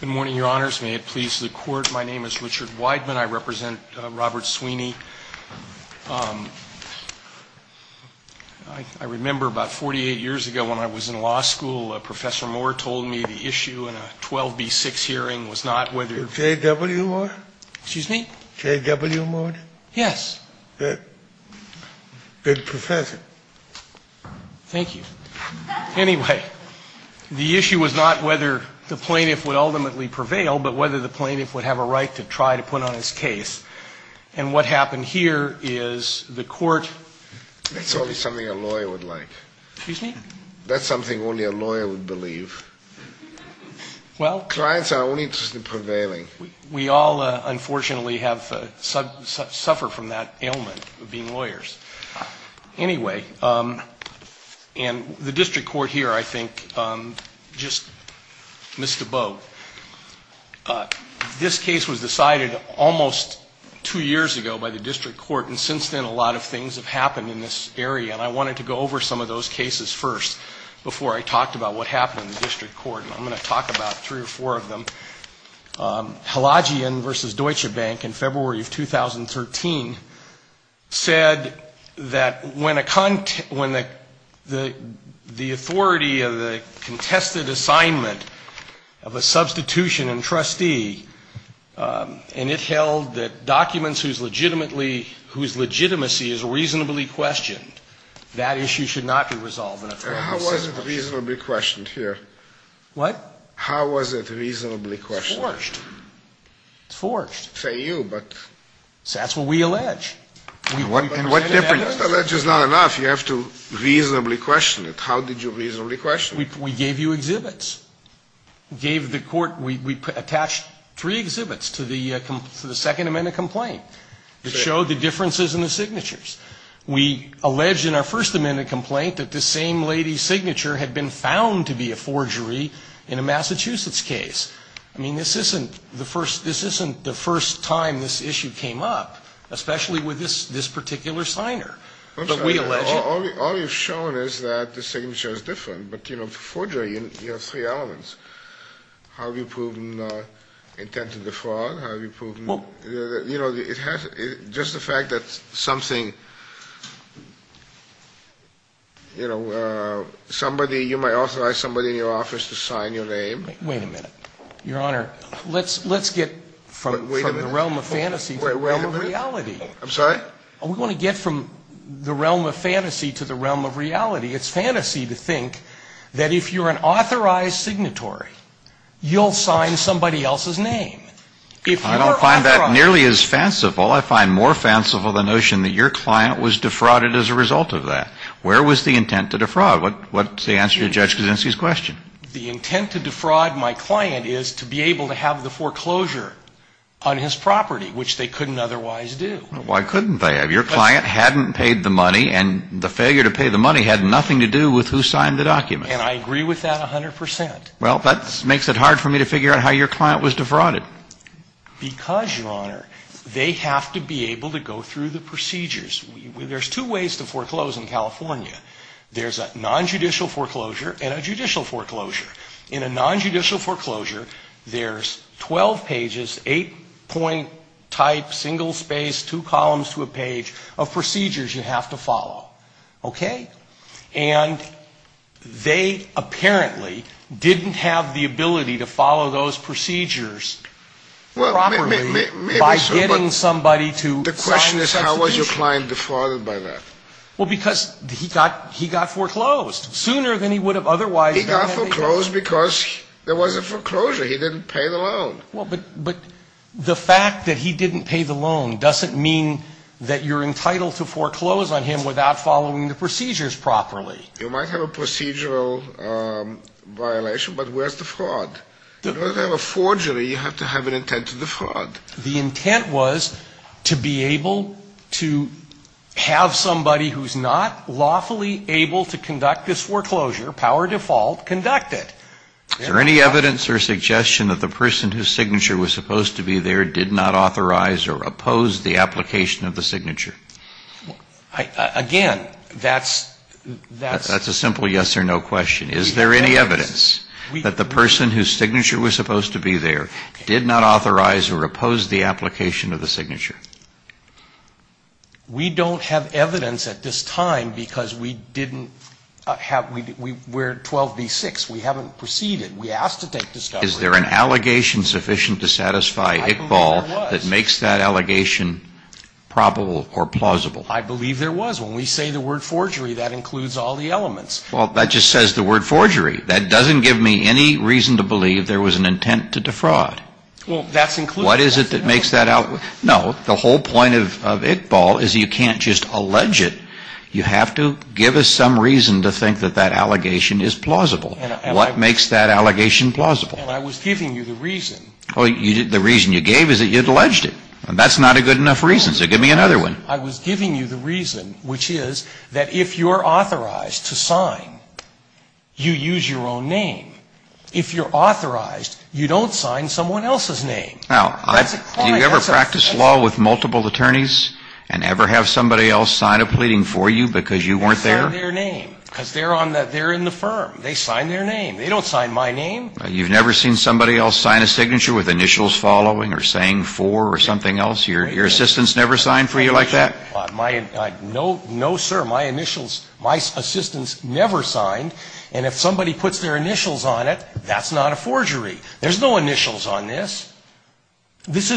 Good morning, Your Honors. May it please the Court, my name is Richard Weidman. I represent Robert Sweeney. I remember about 48 years ago when I was in law school, Professor Moore told me the issue in a 12b-6 hearing was not whether… J.W. Moore? Excuse me? J.W. Moore? Yes. Good. Good professor. Thank you. Anyway, the issue was not whether the plaintiff would ultimately prevail, but whether the plaintiff would have a right to try to put on his case. And what happened here is the Court… That's only something a lawyer would like. Excuse me? That's something only a lawyer would believe. Well… Clients are only interested in prevailing. We all, unfortunately, suffer from that ailment of being lawyers. Anyway, and the district court here, I think, just missed a boat. This case was decided almost two years ago by the district court, and since then a lot of things have happened in this area. And I wanted to go over some of those cases first before I talked about what happened in the district court. And I'm going to talk about three or four of them. Halagian v. Deutsche Bank in February of 2013 said that when the authority of the contested assignment of a substitution and trustee, and it held that documents whose legitimacy is reasonably questioned, that issue should not be resolved in a fair and consistent fashion. How was it reasonably questioned here? What? How was it reasonably questioned? It's forged. It's forged. Say you, but… That's what we allege. And what difference… Allege is not enough. You have to reasonably question it. How did you reasonably question it? We gave you exhibits. We gave the court – we attached three exhibits to the Second Amendment complaint that showed the differences in the signatures. We allege in our First Amendment complaint that this same lady's signature had been found to be a forgery in a Massachusetts case. I mean, this isn't the first – this isn't the first time this issue came up, especially with this particular signer. But we allege… All you've shown is that the signature is different. But, you know, forgery, you have three elements. Have you proven intent to defraud? Have you proven… Well… You know, it has – just the fact that something, you know, somebody – you might authorize somebody in your office to sign your name. Wait a minute, Your Honor. Let's get from the realm of fantasy to the realm of reality. Wait a minute. I'm sorry? We want to get from the realm of fantasy to the realm of reality. It's fantasy to think that if you're an authorized signatory, you'll sign somebody else's name. I don't find that nearly as fanciful. I find more fanciful the notion that your client was defrauded as a result of that. Where was the intent to defraud? What's the answer to Judge Kuczynski's question? The intent to defraud my client is to be able to have the foreclosure on his property, which they couldn't otherwise do. Why couldn't they have? Your client hadn't paid the money, and the failure to pay the money had nothing to do with who signed the document. And I agree with that 100 percent. Well, that makes it hard for me to figure out how your client was defrauded. Because, Your Honor, they have to be able to go through the procedures. There's two ways to foreclose in California. There's a nonjudicial foreclosure and a judicial foreclosure. In a nonjudicial foreclosure, there's 12 pages, eight-point type, single-spaced, two columns to a page of procedures you have to follow. Okay? And they apparently didn't have the ability to follow those procedures properly by getting somebody to sign the substitution. The question is, how was your client defrauded by that? Well, because he got foreclosed sooner than he would have otherwise been. He got foreclosed because there was a foreclosure. He didn't pay the loan. Well, but the fact that he didn't pay the loan doesn't mean that you're entitled to foreclose on him without following the procedures properly. You might have a procedural violation, but where's the fraud? In order to have a forgery, you have to have an intent to defraud. The intent was to be able to have somebody who's not lawfully able to conduct this foreclosure, power of default, conduct it. Is there any evidence or suggestion that the person whose signature was supposed to be there did not authorize or oppose the application of the signature? Again, that's the simple yes or no question. Is there any evidence that the person whose signature was supposed to be there did not authorize or oppose the application of the signature? We don't have evidence at this time because we didn't have we're 12B-6. We haven't proceeded. We asked to take discovery. Is there an allegation sufficient to satisfy Iqbal that makes that allegation probable or plausible? I believe there was. When we say the word forgery, that includes all the elements. Well, that just says the word forgery. That doesn't give me any reason to believe there was an intent to defraud. Well, that's included. What is it that makes that out? No. The whole point of Iqbal is you can't just allege it. You have to give us some reason to think that that allegation is plausible. What makes that allegation plausible? Well, I was giving you the reason. The reason you gave is that you'd alleged it. That's not a good enough reason. So give me another one. I was giving you the reason, which is that if you're authorized to sign, you use your own name. If you're authorized, you don't sign someone else's name. Now, do you ever practice law with multiple attorneys and ever have somebody else sign a pleading for you because you weren't there? They sign their name because they're in the firm. They sign their name. They don't sign my name. You've never seen somebody else sign a signature with initials following or saying for or something else? Your assistants never signed for you like that? No, sir. My initials, my assistants never signed. And if somebody puts their initials on it, that's not a forgery. There's no initials on this. This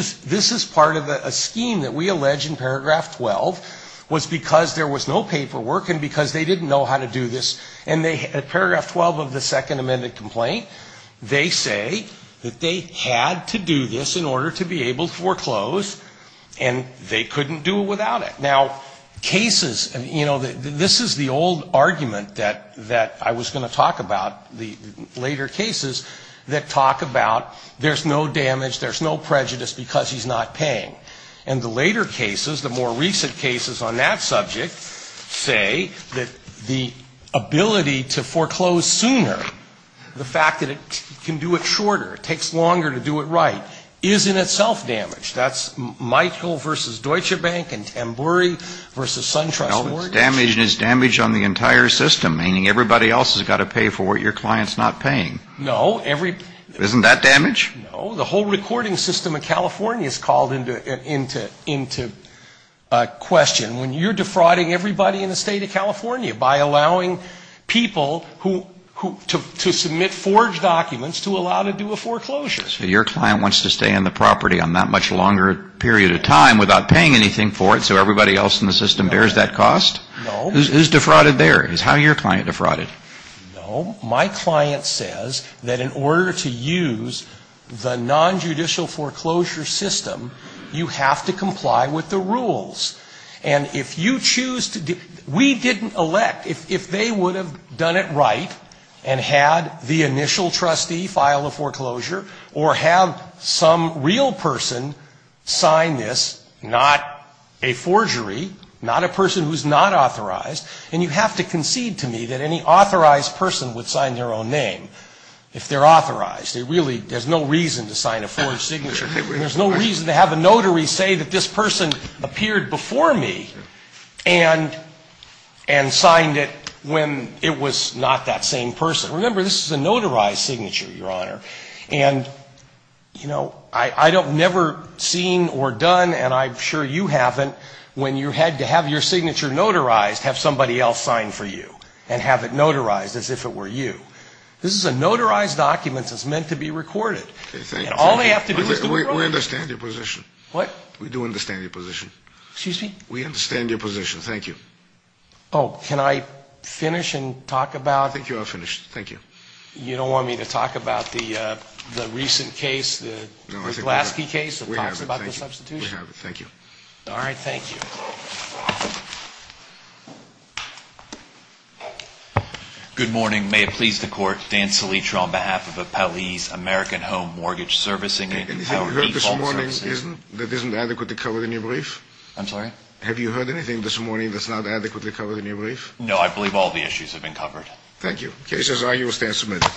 is part of a scheme that we allege in paragraph 12 was because there was no paperwork and because they didn't know how to do this. And paragraph 12 of the second amended complaint, they say that they had to do this in order to be able to foreclose, and they couldn't do it without it. Now, cases, you know, this is the old argument that I was going to talk about, the later cases that talk about there's no damage, there's no prejudice because he's not paying. And the later cases, the more recent cases on that subject say that the ability to foreclose sooner, the fact that it can do it shorter, it takes longer to do it right, is in itself damage. That's Michael versus Deutsche Bank and Tambouri versus SunTrust. No, it's damage and it's damage on the entire system, meaning everybody else has got to pay for what your client's not paying. No. Isn't that damage? No. The whole recording system of California is called into question. When you're defrauding everybody in the state of California by allowing people to submit forged documents to allow to do a foreclosure. So your client wants to stay on the property on that much longer period of time without paying anything for it so everybody else in the system bears that cost? No. Who's defrauded there? Is how your client defrauded? No. My client says that in order to use the nonjudicial foreclosure system, you have to comply with the rules. And if you choose to, we didn't elect, if they would have done it right and had the initial trustee file a foreclosure or have some real person sign this, not a forgery, not a person who's not authorized, and you have to concede to me that any authorized person would sign their own name if they're authorized. There's no reason to sign a forged signature. There's no reason to have a notary say that this person appeared before me and signed it when it was not that same person. Remember, this is a notarized signature, Your Honor. And, you know, I've never seen or done, and I'm sure you haven't, when you had to have your signature notarized, have somebody else sign for you and have it notarized as if it were you. This is a notarized document that's meant to be recorded. And all they have to do is do the right thing. We understand your position. What? We do understand your position. Excuse me? We understand your position. Thank you. Oh, can I finish and talk about? I think you are finished. Thank you. You don't want me to talk about the recent case, the Glasky case that talks about the substitution? We have it. Thank you. All right. Thank you. Good morning. May it please the Court, Dan Selitra on behalf of Appel Ease American Home Mortgage Servicing. Anything you heard this morning that isn't adequately covered in your brief? I'm sorry? Have you heard anything this morning that's not adequately covered in your brief? No. I believe all the issues have been covered. Thank you. Cases are in your stand submitted.